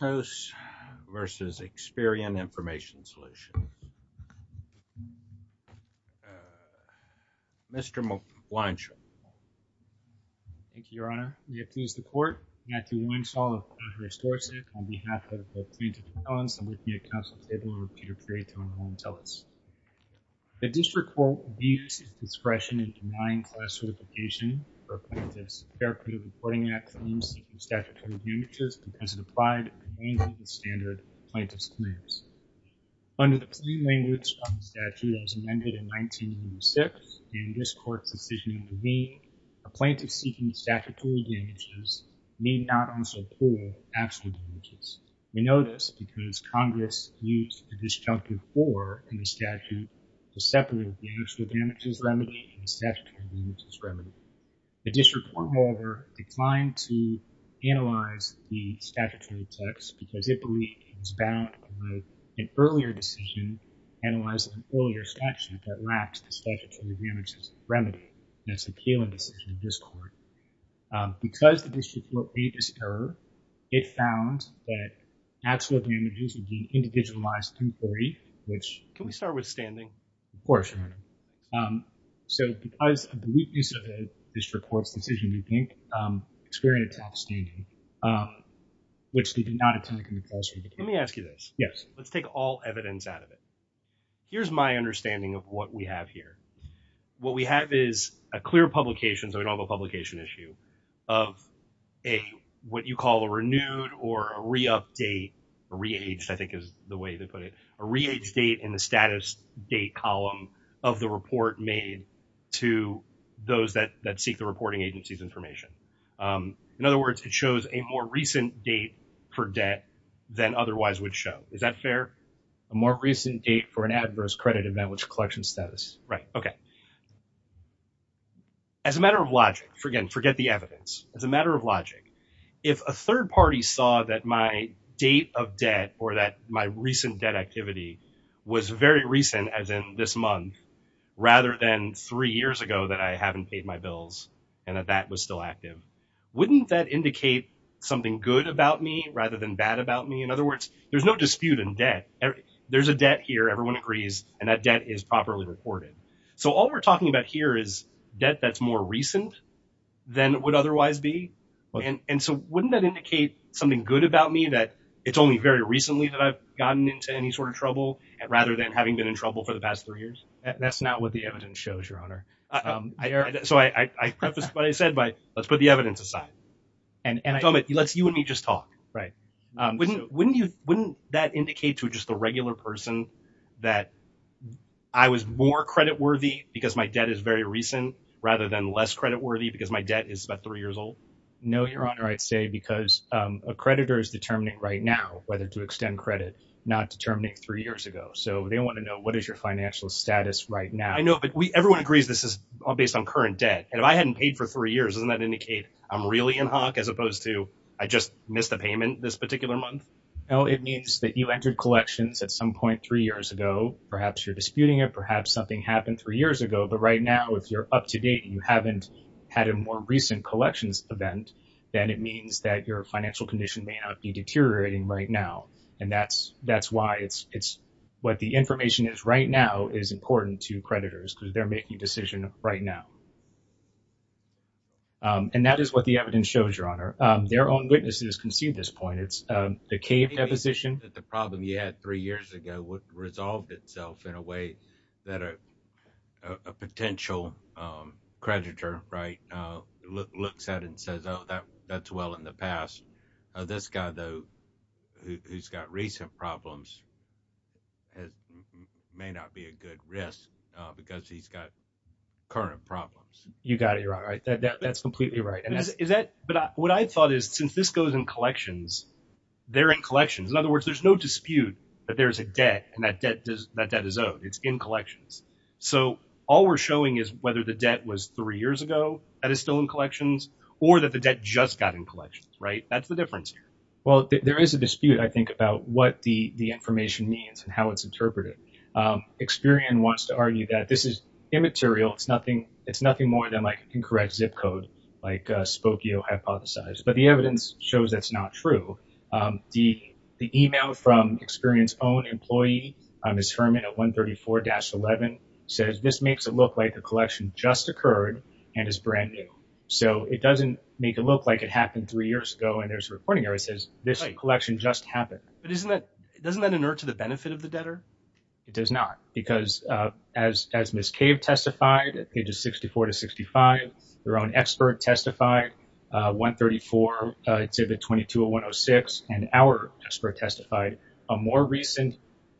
Mr. Weinshaw. Thank you, Your Honor. May it please the Court, Matthew Weinshaw of Contreras-Dorset on behalf of the plaintiff's defense and with me at counsel's table are Peter Kreaton and Helen Tellis. The District Court views this discretion in denying class certification for plaintiffs' Fair Credit Reporting Act claims and statutory damages because it applied standard plaintiff's claims. Under the plain language of the statute as amended in 1996 and this Court's decision intervened, a plaintiff seeking statutory damages may not also pull actual damages. We know this because Congress used a disjunctive for in the statute to separate the actual damages remedy and the statutory damages remedy. The District Court, however, declined to do this because it believed it was bound with an earlier decision analyzing an earlier statute that lacks the statutory damages remedy and it's an appealing decision in this Court. Because the District Court made this error, it found that actual damages were being individualized through jury, which... Can we start with standing? Of course, Your Honor. So, because of the weakness of the District Court's decision, we think Experian attacked standing, which they did not attack in the classroom. Let me ask you this. Yes. Let's take all evidence out of it. Here's my understanding of what we have here. What we have is a clear publication, so we don't have a publication issue, of a, what you call a renewed or a re-update, or re-aged I think is the way to put it, a re-aged date in the status date column of the report made to those that seek the reporting agency's information. In other words, it shows a more recent date for debt than otherwise would show. Is that fair? A more recent date for an adverse credit advantage collection status. Right. Okay. As a matter of logic, again, forget the evidence. As a matter of logic, if a third party saw that my date of debt or that my recent debt activity was very recent, as in this month, rather than three years ago that I haven't paid my bills and that that was still active, wouldn't that indicate something good about me rather than bad about me? In other words, there's no dispute in debt. There's a debt here, everyone agrees, and that debt is properly reported. So, all we're talking about here is debt that's more recent than it would otherwise be. And so, wouldn't that indicate something good about me that it's only very recently that I've gotten into any sort of trouble rather than having been in trouble for the past three years? That's not what the evidence shows, Your Honor. So, I prefaced what I said by, let's put the evidence aside. You and me just talk. Right. Wouldn't that indicate to just the regular person that I was more credit worthy because my debt is very recent rather than less credit worthy because my debt is about three years old? No, Your Honor. I'd say because a creditor is determining right now whether to extend credit, not determining three years ago. So, they want to know what is your financial status right now. I know, but everyone agrees this is all based on current debt. And if I hadn't paid for three years, doesn't that indicate I'm really in hock as opposed to I just missed a payment this particular month? No, it means that you entered collections at some point three years ago. Perhaps you're disputing it. Perhaps something happened three years ago. But right now, if you're up to date, you haven't had a more recent collections event, then it means that your financial condition may not be deteriorating right now. And that's why it's what the information is right now is important to creditors because they're making a decision right now. And that is what the evidence shows, Your Honor. Their own witnesses can see this point. It's the CAVE deposition. The problem you had three years ago resolved itself in a way that a potential creditor looks at and says, oh, that's well in the past. This guy, though, who's got recent problems, may not be a good risk because he's got current problems. You got it, Your Honor. That's completely right. But what I thought is, since this goes in collections, they're in collections. In other words, there's no dispute that there's a debt and that debt is owed. It's in collections. So all we're showing is whether the debt was three years ago that is still in collections or that the debt just got in collections, right? That's the difference here. Well, there is a dispute, I think, about what the information means and how it's interpreted. Experian wants to argue that this is immaterial. It's nothing more than like incorrect zip code, like Spokio hypothesized. But the evidence shows that's not true. The email from Experian's own employee, Ms. Herman at 134-11, says this makes it look like the collection just occurred and is brand new. So it doesn't make it look like it happened three years ago. And there's a reporting error that says this collection just happened. But doesn't that inert to the benefit of the debtor? It does not. Because as Ms. Cave testified, pages 64 to 65, their own expert testified, 134 to the 220106, and our expert testified, a more recent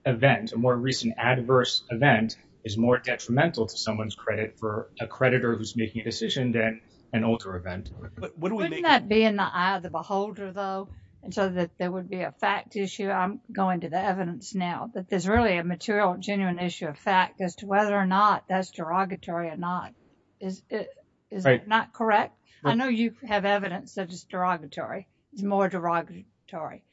event, a more recent adverse event is more detrimental to someone's credit for a creditor who's making a decision than an older event. But wouldn't that be in the eye of the beholder, though? And so that there would be a fact issue. I'm going to the evidence now that there's really material, genuine issue of fact as to whether or not that's derogatory or not. Is it not correct? I know you have evidence that it's derogatory. It's more derogatory.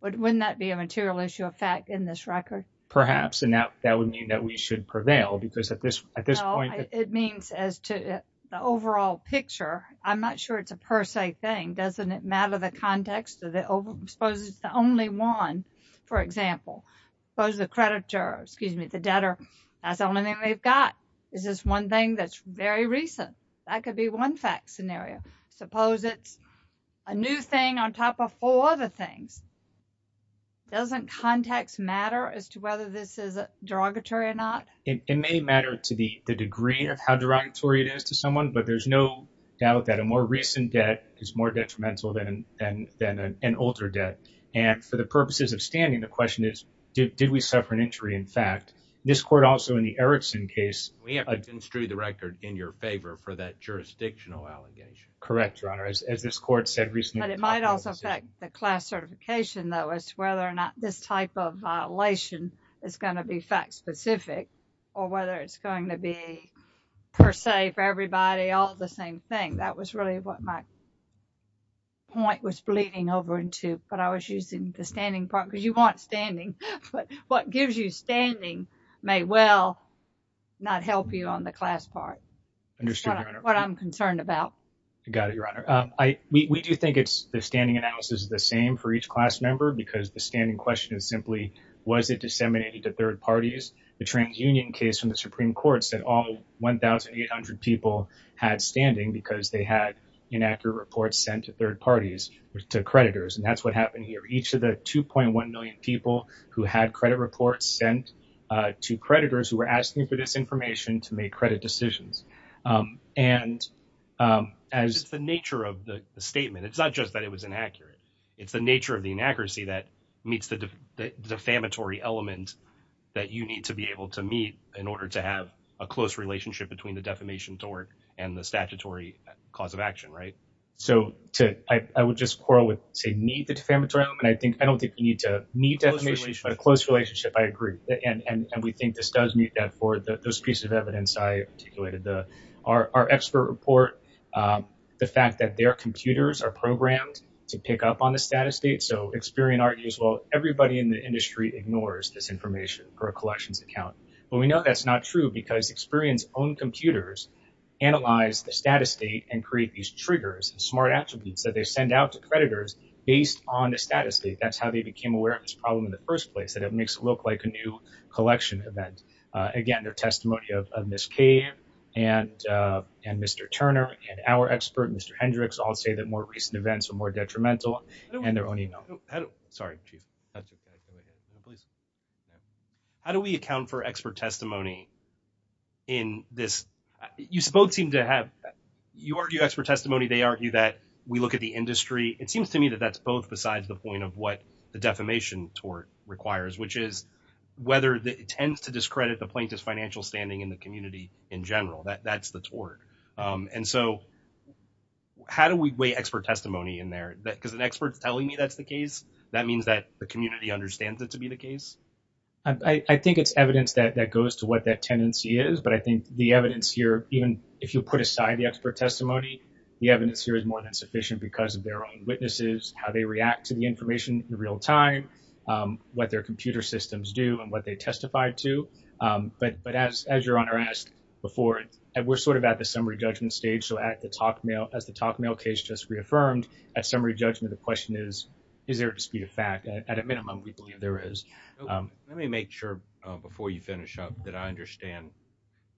But wouldn't that be a material issue of fact in this record? Perhaps. And that would mean that we should prevail. Because at this point, it means as to the overall picture, I'm not sure it's a per se thing. Doesn't it matter the context? Suppose it's the only one, for example. Suppose the creditor, excuse me, the debtor, that's the only thing they've got. Is this one thing that's very recent? That could be one fact scenario. Suppose it's a new thing on top of four other things. Doesn't context matter as to whether this is derogatory or not? It may matter to the degree of how derogatory it is to than an older debt. And for the purposes of standing, the question is, did we suffer an injury in fact? This court also in the Erickson case. We have to construe the record in your favor for that jurisdictional allegation. Correct, Your Honor. As this court said recently. But it might also affect the class certification though as to whether or not this type of violation is going to be fact specific or whether it's going to be per se for everybody all the same thing. That was really what my point was bleeding over into. But I was using the standing part because you want standing. But what gives you standing may well not help you on the class part. Understood, Your Honor. That's what I'm concerned about. Got it, Your Honor. We do think it's the standing analysis is the same for each class member because the standing question is simply, was it disseminated to third parties? The TransUnion case from the Supreme Court said all 1,800 people had standing because they had inaccurate reports sent to third parties to creditors. And that's what happened here. Each of the 2.1 million people who had credit reports sent to creditors who were asking for this information to make credit decisions. And as the nature of the statement, it's not just that it was inaccurate. It's the nature of the inaccuracy that meets the defamatory element that you need to be able to meet in between the defamation tort and the statutory cause of action, right? So I would just quarrel with, say, meet the defamatory element. I don't think you need to meet defamation, but a close relationship, I agree. And we think this does meet that for those pieces of evidence I articulated. Our expert report, the fact that their computers are programmed to pick up on the status state. So Experian argues, well, everybody in the industry ignores this information for a collections account. Well, we know that's not true because Experian's own analyzed the status state and create these triggers and smart attributes that they send out to creditors based on the status state. That's how they became aware of this problem in the first place, that it makes it look like a new collection event. Again, their testimony of Ms. Kay and Mr. Turner and our expert, Mr. Hendricks, all say that more recent events are more detrimental and their own email. How do we account for expert testimony in this? You argue expert testimony. They argue that we look at the industry. It seems to me that that's both besides the point of what the defamation tort requires, which is whether it tends to discredit the plaintiff's financial standing in the community in general. That's the tort. And so how do we weigh expert testimony in there? Because an expert's telling me that's the case, that means that the community understands it to be the case? I think it's evidence that goes to what that tendency is. But I think the evidence here, even if you put aside the expert testimony, the evidence here is more than sufficient because of their own witnesses, how they react to the information in real time, what their computer systems do and what they testify to. But as your Honor asked before, we're sort of at the summary judgment stage, so as the talk mail case just reaffirmed, at summary judgment the question is, is there a dispute of fact? At a minimum, we believe there is. Let me make sure before you finish up that I understand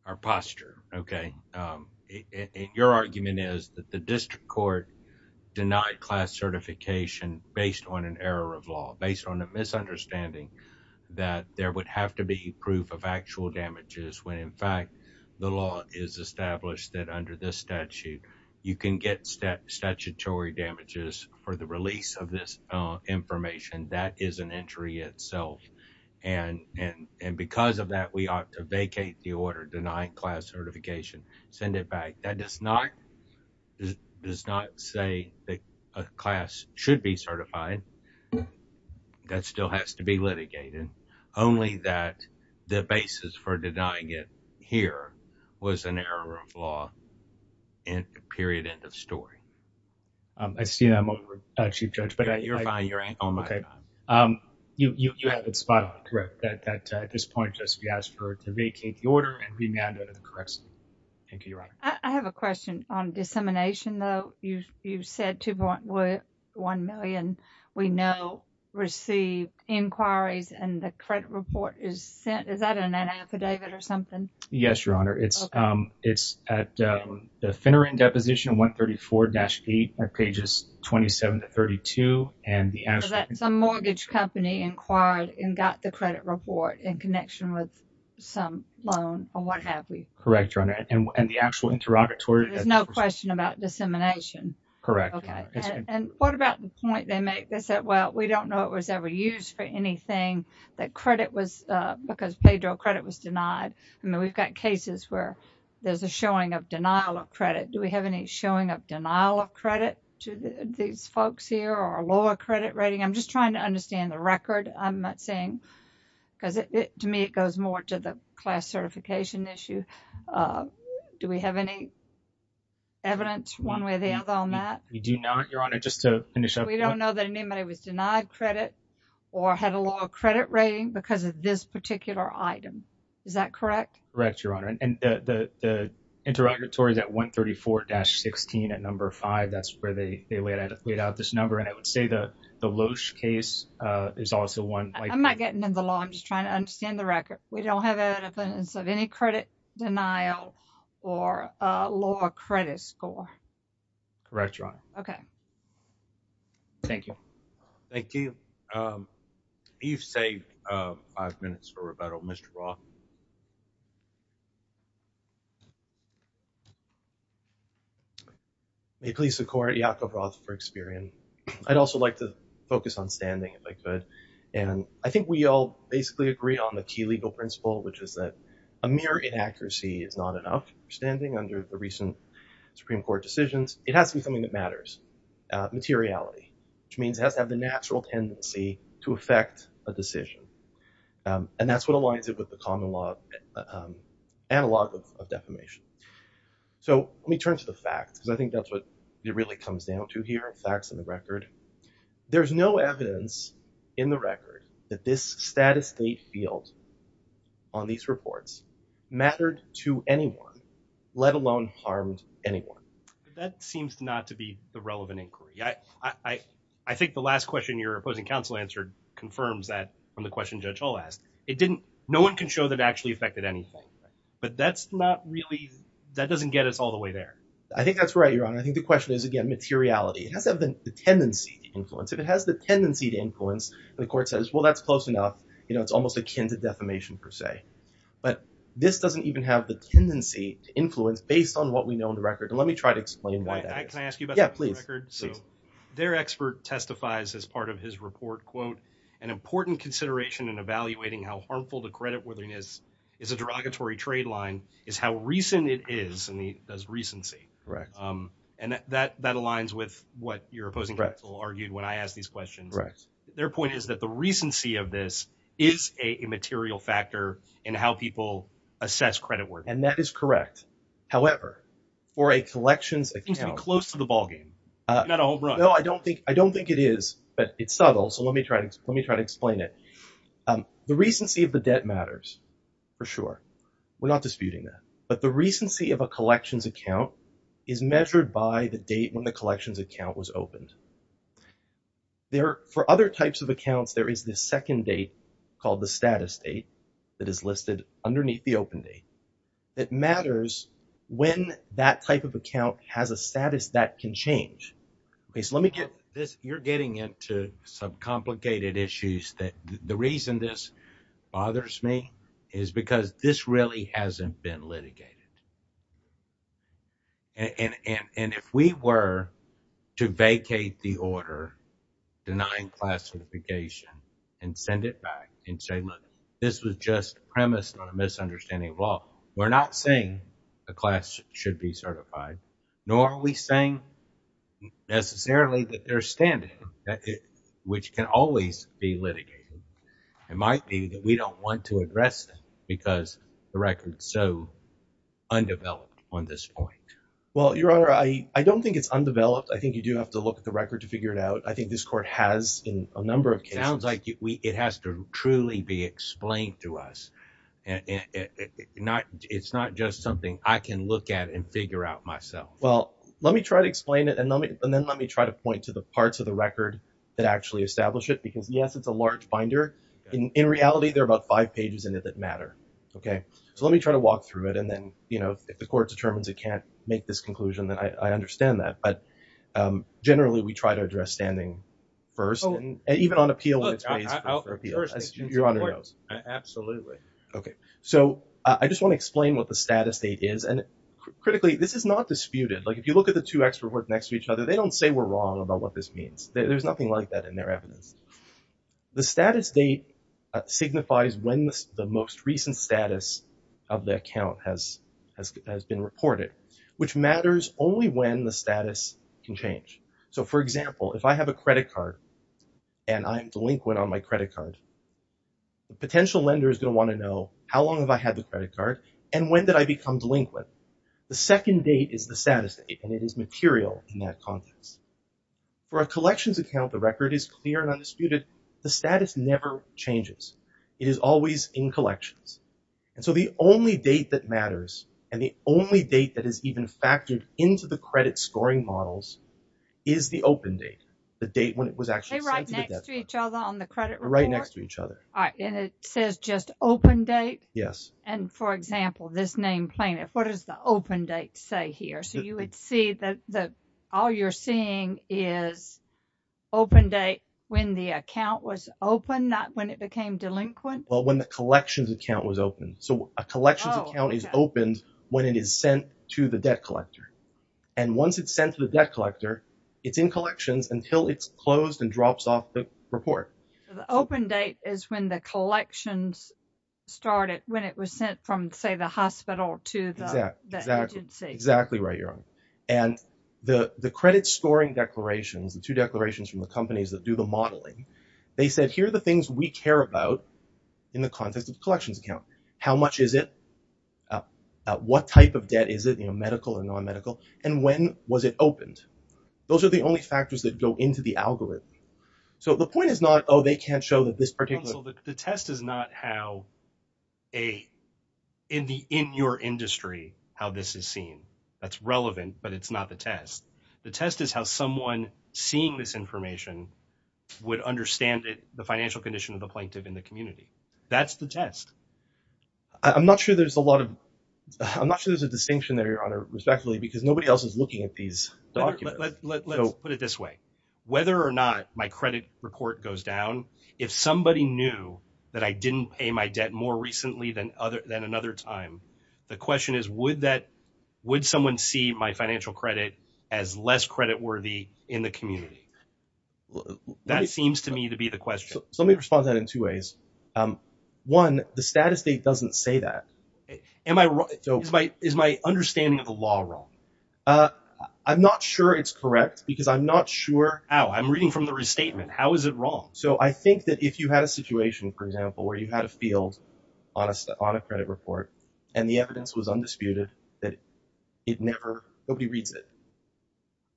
our posture, okay? Your argument is that the district court denied class certification based on an error of law, based on a misunderstanding that there would have to be proof of actual damages when in fact the law is established that under this statute, you can get statutory damages for the release of this information. That is an injury itself. And because of that, we ought to vacate the order denying class certification, send it back. That does not say that a class should be certified. That still has to be litigated. Only that the basis for denying it here was an error of law, and period, end of story. I see that I'm over, Chief Judge. You're fine, you're in. Okay, you have it spot on, correct, that at this point just we asked for to vacate the order and remand it in the correct statement. Thank you, Your Honor. I have a question on dissemination, though. You said 2.1 million we know received inquiries and the credit report is sent. Is that in that affidavit or something? Yes, Your Honor. It's at the Finneran Deposition 134-8 at pages 27 to 32. So that's a mortgage company inquired and got the credit report in connection with some loan or what have we. Correct, Your Honor. And the actual interrogatory... There's no question about dissemination. Correct. Okay. And what about the point they make? They said, well, we don't know it was ever used for anything, that credit was... Because Pedro, credit was denied. I mean, we've got cases where there's a showing of denial of credit. Do we have any showing of denial of credit to these folks here or a lower credit rating? I'm just trying to understand the record. I'm not saying... Because to me, it goes more to the class certification issue. Do we have any evidence one way or the other on that? We do not, Your Honor. Just to me, we don't have any evidence of denied credit or had a lower credit rating because of this particular item. Is that correct? Correct, Your Honor. And the interrogatory is at 134-16 at number five. That's where they laid out this number. And I would say the Loesch case is also one... I'm not getting into the law. I'm just trying to understand the record. We don't have evidence of any credit denial or a lower credit score. Correct, Your Honor. Okay. Thank you. Thank you. You've saved five minutes for rebuttal, Mr. Roth. May it please the Court, Yakov Roth for Experian. I'd also like to focus on standing if I could. And I think we all basically agree on the key legal principle, which is that a mere inaccuracy is not enough standing under the recent Supreme Court decisions. It has to be something that matters, materiality, which means it has to have the natural tendency to affect a decision. And that's what aligns it with the common law analog of defamation. So let me turn to the facts because I think that's what it really comes down to here, facts and the record. There's no evidence in the record that this status state field on these reports mattered to anyone, let alone harmed anyone. That seems not to be the relevant inquiry. I think the last question your opposing counsel answered confirms that from the question Judge Hull asked. It didn't... No one can show that it actually affected anything, but that's not really... That doesn't get us all the way there. I think that's right, Your Honor. I think the question is, again, materiality. It has to have the tendency to influence. If it has the tendency to influence, the court says, well, that's close enough. It's almost akin to defamation per se. But this doesn't even have the tendency to influence based on what we know in the record. And let me try to explain why that is. Can I ask you about the record? Yeah, please. So their expert testifies as part of his report, quote, an important consideration in evaluating how harmful the creditworthiness is a derogatory trade line is how recent it is, and he does recency. And that aligns with what your opposing counsel argued when I asked these questions. Their point is that the recency of this is a material factor in how people assess creditworthiness. And that is correct. However, for a collections account... It seems to be close to the ballgame, not a home run. No, I don't think it is, but it's subtle. So let me try to explain it. The recency of the debt matters, for sure. We're not disputing that. But the recency of a collections account is measured by the date when the collections account was opened. For other types of accounts, there is this second date called the status date that is listed underneath the open date. It matters when that type of account has a status that can change. So let me get this. You're getting into some complicated issues that the reason this bothers me is because this really hasn't been litigated. And if we were to vacate the order denying class certification and send it back and say, look, this was just premised on a misunderstanding of law, we're not saying the class should be certified, nor are we saying necessarily that they're standing, which can always be litigated. It might be that we don't want to address that because the record is so undeveloped on this point. Well, Your Honor, I don't think it's undeveloped. I think you do have to look at the record to figure it out. I think this court has in a number of cases. It sounds like it has to truly be explained to us. It's not just something I can look at and figure out myself. Well, let me try to explain it and then let me try to point to the parts of the record that actually establish it, because yes, it's a large binder. In reality, there are about five pages in it that matter. Okay. So let me try to walk through it. And then, you know, if the court determines it can't make this conclusion, then I understand that. But generally, we try to address standing first and even on appeal when it's based for appeal, as Your Honor knows. Absolutely. Okay. So I just want to explain what the status state is. And critically, this is not disputed. Like if you look at the two expert reports next to each other, they don't say we're wrong about what this means. There's nothing like that in their evidence. The status date signifies when the most recent status of the account has been reported, which matters only when the status can change. So for example, if I have a credit card and I'm delinquent on my credit card, the potential lender is going to want to know how long have I had the credit card and when did I become delinquent? The second date is the status date and it is material in that context. For a collections account, the record is clear and undisputed. The status never changes. It is always in collections. And so the only date that matters and the only date that is even factored into the credit scoring models is the open date, the date when it was actually sent to the debtor. Right next to each other on the credit report? Right next to each other. All right. And it says just open date? Yes. And for example, this name plaintiff, what does the open date say here? So you would see that all you're seeing is open date when the account was open, not when it became delinquent? Well, when the collections account was open. So a collections account is opened when it is sent to the debt collector. And once it's sent to the debt collector, it's in collections until it's closed and drops off the report. So the open date is when the And the credit scoring declarations, the two declarations from the companies that do the modeling, they said, here are the things we care about in the context of collections account. How much is it? What type of debt is it, medical or non-medical? And when was it opened? Those are the only factors that go into the algorithm. So the point is not, oh, they can't show that this but it's not the test. The test is how someone seeing this information would understand the financial condition of the plaintiff in the community. That's the test. I'm not sure there's a lot of, I'm not sure there's a distinction there, Your Honor, respectfully, because nobody else is looking at these documents. Let's put it this way. Whether or not my credit report goes down, if somebody knew that I didn't pay my debt more recently than another time, the question is, would someone see my financial credit as less credit worthy in the community? That seems to me to be the question. Let me respond to that in two ways. One, the status state doesn't say that. Is my understanding of the law wrong? I'm not sure it's correct because I'm not sure how. I'm reading from the restatement. How is it wrong? So I think that if you had a situation, for example, where you had a field on a credit report and the evidence was undisputed that it never, nobody reads it.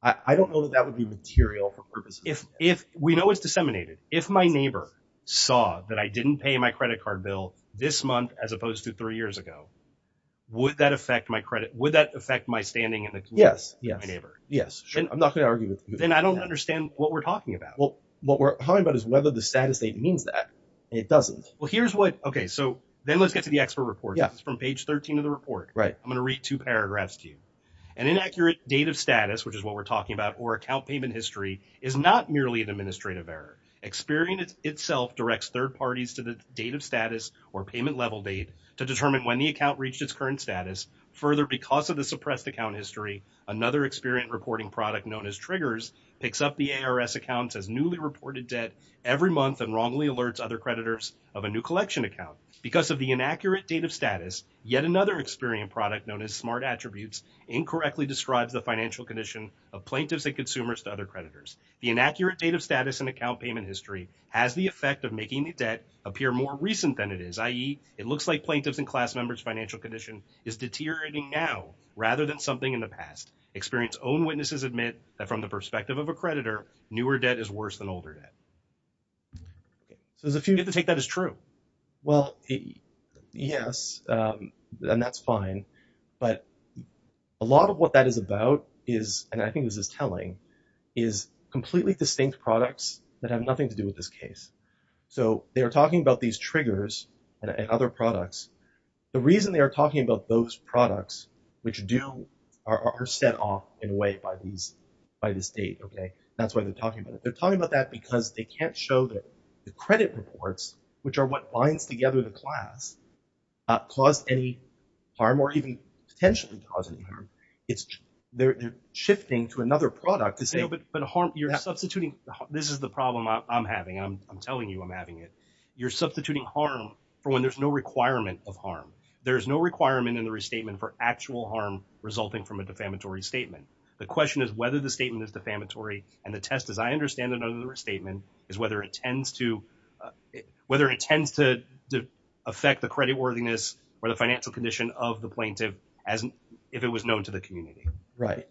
I don't know that that would be material for purposes. If we know it's disseminated, if my neighbor saw that I didn't pay my credit card bill this month as opposed to three years ago, would that affect my credit? Would that affect my standing in the community? Yes. Yes. I'm not going to argue with you. Then I don't understand what we're talking about. Well, what we're talking about is whether the from page 13 of the report. I'm going to read two paragraphs to you. An inaccurate date of status, which is what we're talking about, or account payment history is not merely an administrative error. Experian itself directs third parties to the date of status or payment level date to determine when the account reached its current status. Further, because of the suppressed account history, another Experian reporting product known as Triggers picks up the ARS accounts as newly reported debt every month and wrongly alerts other creditors of a new collection account. Because of the inaccurate date of status, yet another Experian product known as Smart Attributes incorrectly describes the financial condition of plaintiffs and consumers to other creditors. The inaccurate date of status and account payment history has the effect of making the debt appear more recent than it is, i.e. it looks like plaintiffs and class members financial condition is deteriorating now rather than something in the past. Experian's own witnesses admit that from the perspective of a creditor, newer debt is worse than older debt. So, there's a few who take that as true. Well, yes, and that's fine. But a lot of what that is about is, and I think this is telling, is completely distinct products that have nothing to do with this case. So, they are talking about these Triggers and other products. The reason they are talking about those products, which do, are set off in a way by these, by this date, okay? That's why they're talking about it. They're talking about that because they can't show that the credit reports, which are what binds together the class, cause any harm or even potentially cause any harm. It's, they're shifting to another product. But harm, you're substituting, this is the problem I'm having. I'm telling you I'm having it. You're substituting harm for when there's no requirement of harm. There's no requirement in the restatement for actual harm resulting from a defamatory statement. The question is the statement is defamatory and the test, as I understand it, under the restatement is whether it tends to, whether it tends to affect the credit worthiness or the financial condition of the plaintiff as if it was known to the community. Right.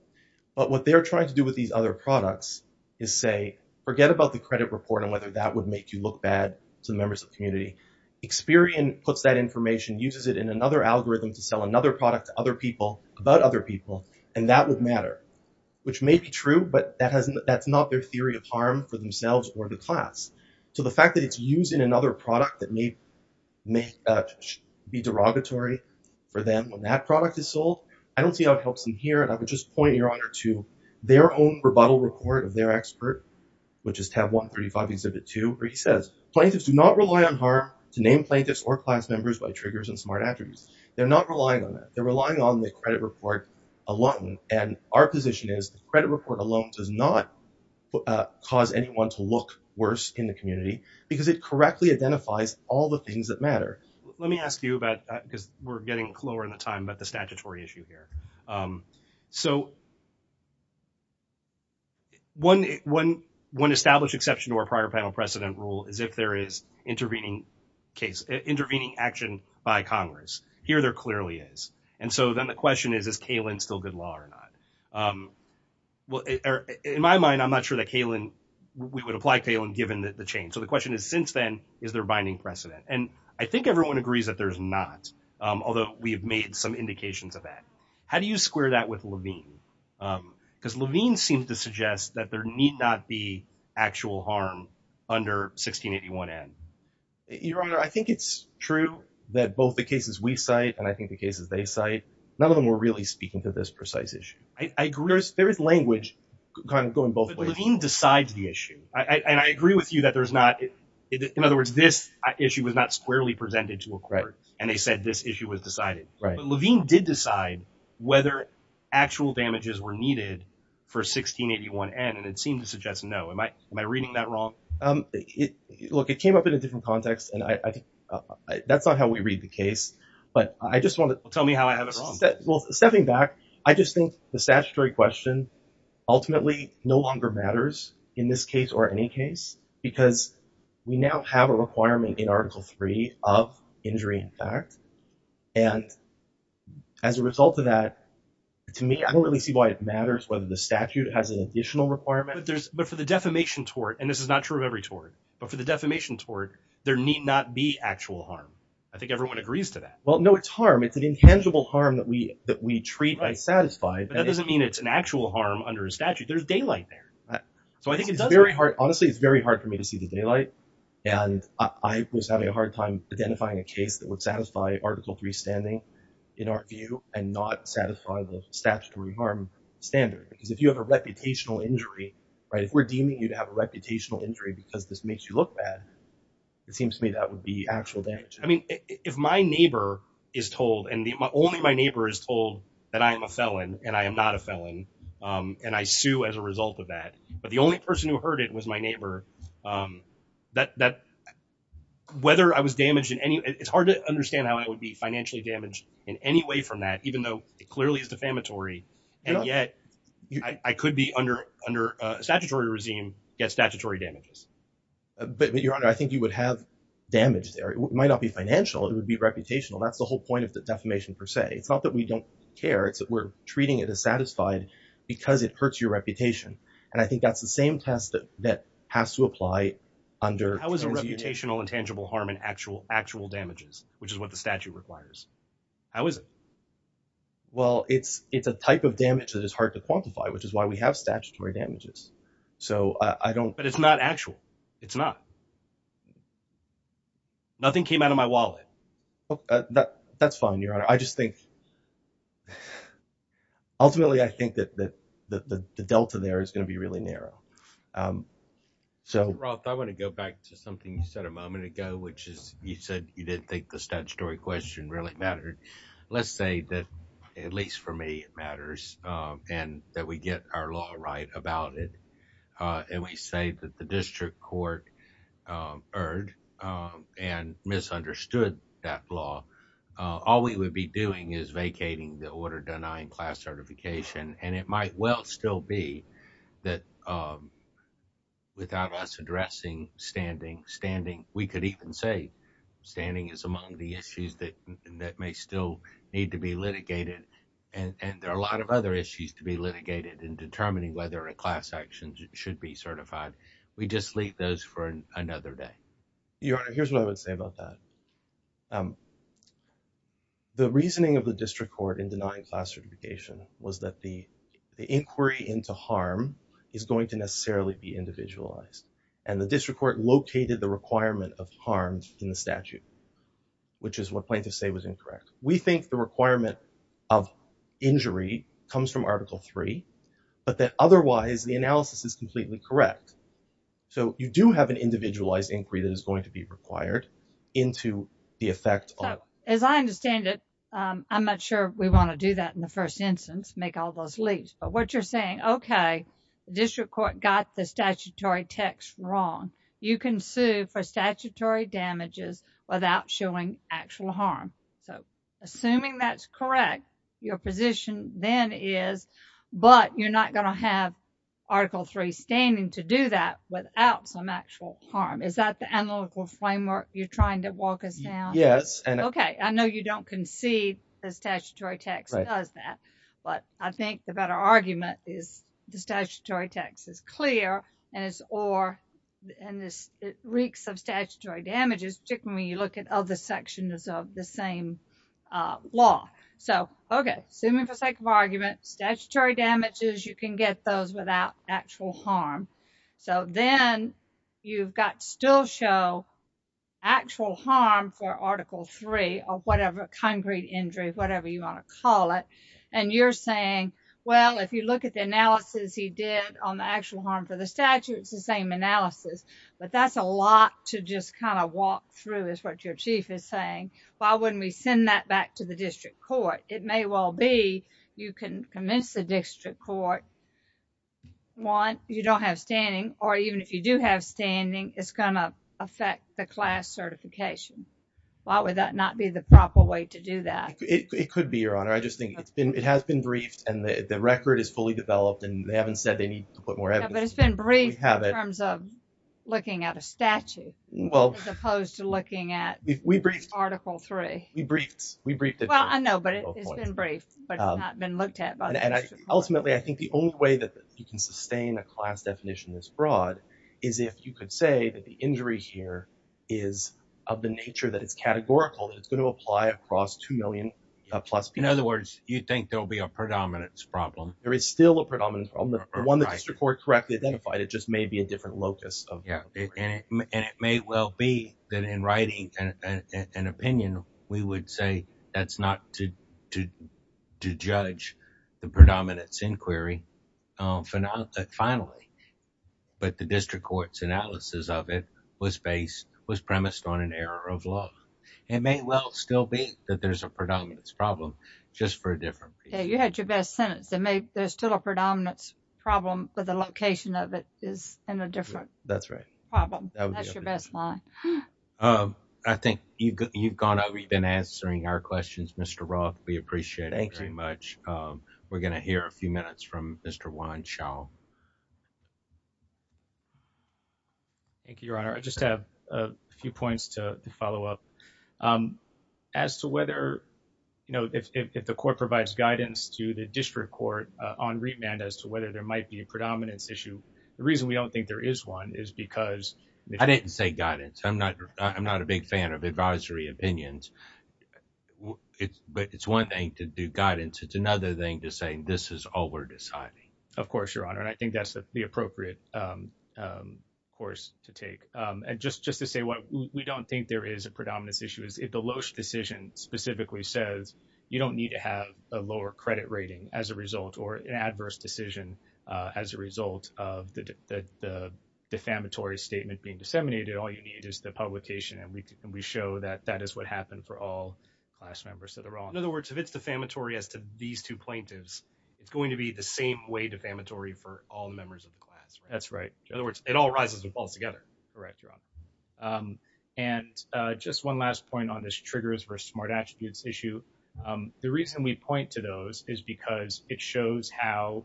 But what they're trying to do with these other products is say, forget about the credit report and whether that would make you look bad to the members of the community. Experian puts that information, uses it in another algorithm to sell another product to other people about other people. And that would matter, which may be true, but that hasn't, that's not their theory of harm for themselves or the class. So the fact that it's using another product that may be derogatory for them when that product is sold, I don't see how it helps them here. And I would just point your honor to their own rebuttal report of their expert, which is tab 135 exhibit two, where he says plaintiffs do not rely on harm to name plaintiffs or class members by triggers and smart attributes. They're not relying on that. They're relying on the credit report alone. And our position is the credit report alone does not cause anyone to look worse in the community because it correctly identifies all the things that matter. Let me ask you about that because we're getting lower in the time, but the statutory issue here. So one, one, one established exception to our prior panel precedent rule is if there is intervening case intervening action by Congress here, there clearly is. And so then the question is, is Kalin still good law or not? Well, in my mind, I'm not sure that Kalin, we would apply Kalin given that the chain. So the question is since then, is there a binding precedent? And I think everyone agrees that there's not, although we've made some indications of that. How do you square that with Levine? Cause Levine seems to suggest that there need not be actual harm under 1681 N. Your Honor, I think it's true that both the cases we cite and I think the cases they cite, none of them were really speaking to this precise issue. I agree. There is language kind of going both ways. Levine decides the issue. I agree with you that there's not, in other words, this issue was not squarely presented to a court and they said this issue was decided. Right. But Levine did decide whether actual damages were needed for 1681 N and it suggests no. Am I reading that wrong? Look, it came up in a different context and I think that's not how we read the case, but I just want to tell me how I have it wrong. Well, stepping back, I just think the statutory question ultimately no longer matters in this case or any case because we now have a requirement in article three of injury in fact. And as a result of that, to me, I don't really see why it matters whether the statute has an additional requirement. But for the defamation tort, and this is not true of every tort, but for the defamation tort, there need not be actual harm. I think everyone agrees to that. Well, no, it's harm. It's an intangible harm that we treat by satisfied. But that doesn't mean it's an actual harm under a statute. There's daylight there. So I think it's very hard. Honestly, it's very hard for me to see the daylight. And I was having a hard time identifying a case that would satisfy article three standing in our view and not satisfy the statutory harm standard. Because if you have a reputational injury, if we're deeming you to have a reputational injury because this makes you look bad, it seems to me that would be actual damage. I mean, if my neighbor is told and only my neighbor is told that I am a felon and I am not a felon and I sue as a result of that, but the only person who heard it was my neighbor, whether I was damaged in any way, it's hard to understand how I would be financially damaged in any way from that, even though it clearly is defamatory. And yet I could be under under a statutory regime, get statutory damages. But your honor, I think you would have damage there. It might not be financial. It would be reputational. That's the whole point of the defamation per se. It's not that we don't care. It's that we're treating it as satisfied because it hurts your reputation. And I think that's the same test that that has to apply under. How is a reputational intangible harm actual damages, which is what the statute requires? How is it? Well, it's it's a type of damage that is hard to quantify, which is why we have statutory damages. So I don't. But it's not actual. It's not. Nothing came out of my wallet. That's fine, your honor. I just think. Ultimately, I think that the delta there is going to be really narrow. Um, so I want to go back to something you said a moment ago, which is you said you didn't think the statutory question really mattered. Let's say that at least for me, it matters and that we get our law right about it. And we say that the district court heard and misunderstood that law. All we would be doing is vacating the order, denying class certification. And it might well still be that without us addressing standing, standing, we could even say standing is among the issues that that may still need to be litigated. And there are a lot of other issues to be litigated in determining whether a class action should be certified. We just leave those for another day. Your honor, here's what I would say about that. The reasoning of the district court in denying class certification was that the inquiry into harm is going to necessarily be individualized and the district court located the requirement of harms in the statute, which is what plaintiffs say was incorrect. We think the requirement of injury comes from article three, but that otherwise the analysis is completely correct. So you do have an individualized inquiry that is going to be required into the effect. As I understand it, I'm not sure we want to do that in the first instance, make all those leaps. But what you're saying, okay, district court got the statutory text wrong. You can sue for statutory damages without showing actual harm. So assuming that's correct, your position then is, but you're not going to have article three standing to do that without some actual harm. Is that the analytical framework you're trying to walk us down? Yes. Okay. I know you don't concede the statutory text does that, but I think the better argument is the statutory text is clear and it's, or, and this, it reeks of statutory damages, particularly when you look at other sections of the same law. So, okay. Assuming for sake of So then you've got still show actual harm for article three or whatever, concrete injury, whatever you want to call it. And you're saying, well, if you look at the analysis he did on the actual harm for the statute, it's the same analysis, but that's a lot to just kind of walk through is what your chief is saying. Why wouldn't we send that back to the district court? It may well be you can convince the district court. One, you don't have standing, or even if you do have standing, it's going to affect the class certification. Why would that not be the proper way to do that? It could be your honor. I just think it's been, it has been briefed and the record is fully developed and they haven't said they need to put more evidence. But it's been briefed in terms of looking at a statute as opposed to looking at article three. We briefed, we briefed it. Well, I know, but it's been briefed, but it's not been looked at. Ultimately, I think the only way that you can sustain a class definition this broad is if you could say that the injury here is of the nature that it's categorical, that it's going to apply across 2 million plus people. In other words, you think there'll be a predominance problem. There is still a predominance problem. The one that district court correctly identified, it just may be a predominance problem. That's not to judge the predominance inquiry. Finally, but the district court's analysis of it was based, was premised on an error of law. It may well still be that there's a predominance problem, just for a different reason. Yeah, you had your best sentence. There may, there's still a predominance problem, but the location of it is in a different problem. That's your best line. I think you've gone, we've been answering our questions. Mr. Roth, we appreciate it very much. We're going to hear a few minutes from Mr. Wanshaw. Thank you, your honor. I just have a few points to follow up. As to whether, you know, if the court provides guidance to the district court on remand as to whether there might be a predominance issue, the reason we don't think there is one is because. I didn't say guidance. I'm not, I'm not a big fan of advisory opinions, but it's one thing to do guidance. It's another thing to say, this is all we're deciding. Of course, your honor. And I think that's the appropriate course to take. And just, just to say what we don't think there is a predominance issue is if the Loesch decision specifically says you don't need to have a lower credit rating as a result or an adverse decision as a result of the defamatory statement being disseminated, all you need is the publication. And we can, we show that that is what happened for all class members that are on. In other words, if it's defamatory as to these two plaintiffs, it's going to be the same way defamatory for all members of the class. That's right. In other words, it all rises and falls together. Correct, your honor. And just one last point on this triggers versus smart attributes issue. The reason we point to those is because it shows how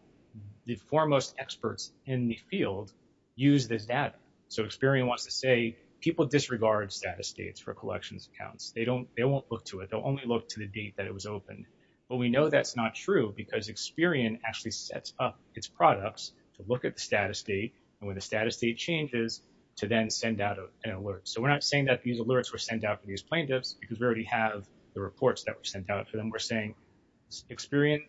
the foremost experts in the field use this data. So Experian wants to say people disregard status dates for collections accounts. They don't, they won't look to it. They'll only look to the date that it was opened, but we know that's not true because Experian actually sets up its products to look at the status date and when the status date changes to then send out an alert. So we're not saying that these alerts were sent out for these plaintiffs because we already have the reports that were sent out to them. We're saying Experian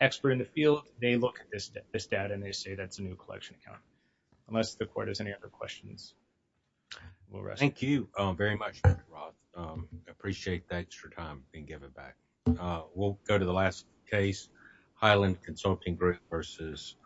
expert in the field, they look at this data and they say that's a new collection account unless the court has any other questions. We'll rest. Thank you very much, Dr. Roth. Appreciate that extra time being given back. We'll go to the last case Highland Consulting Group versus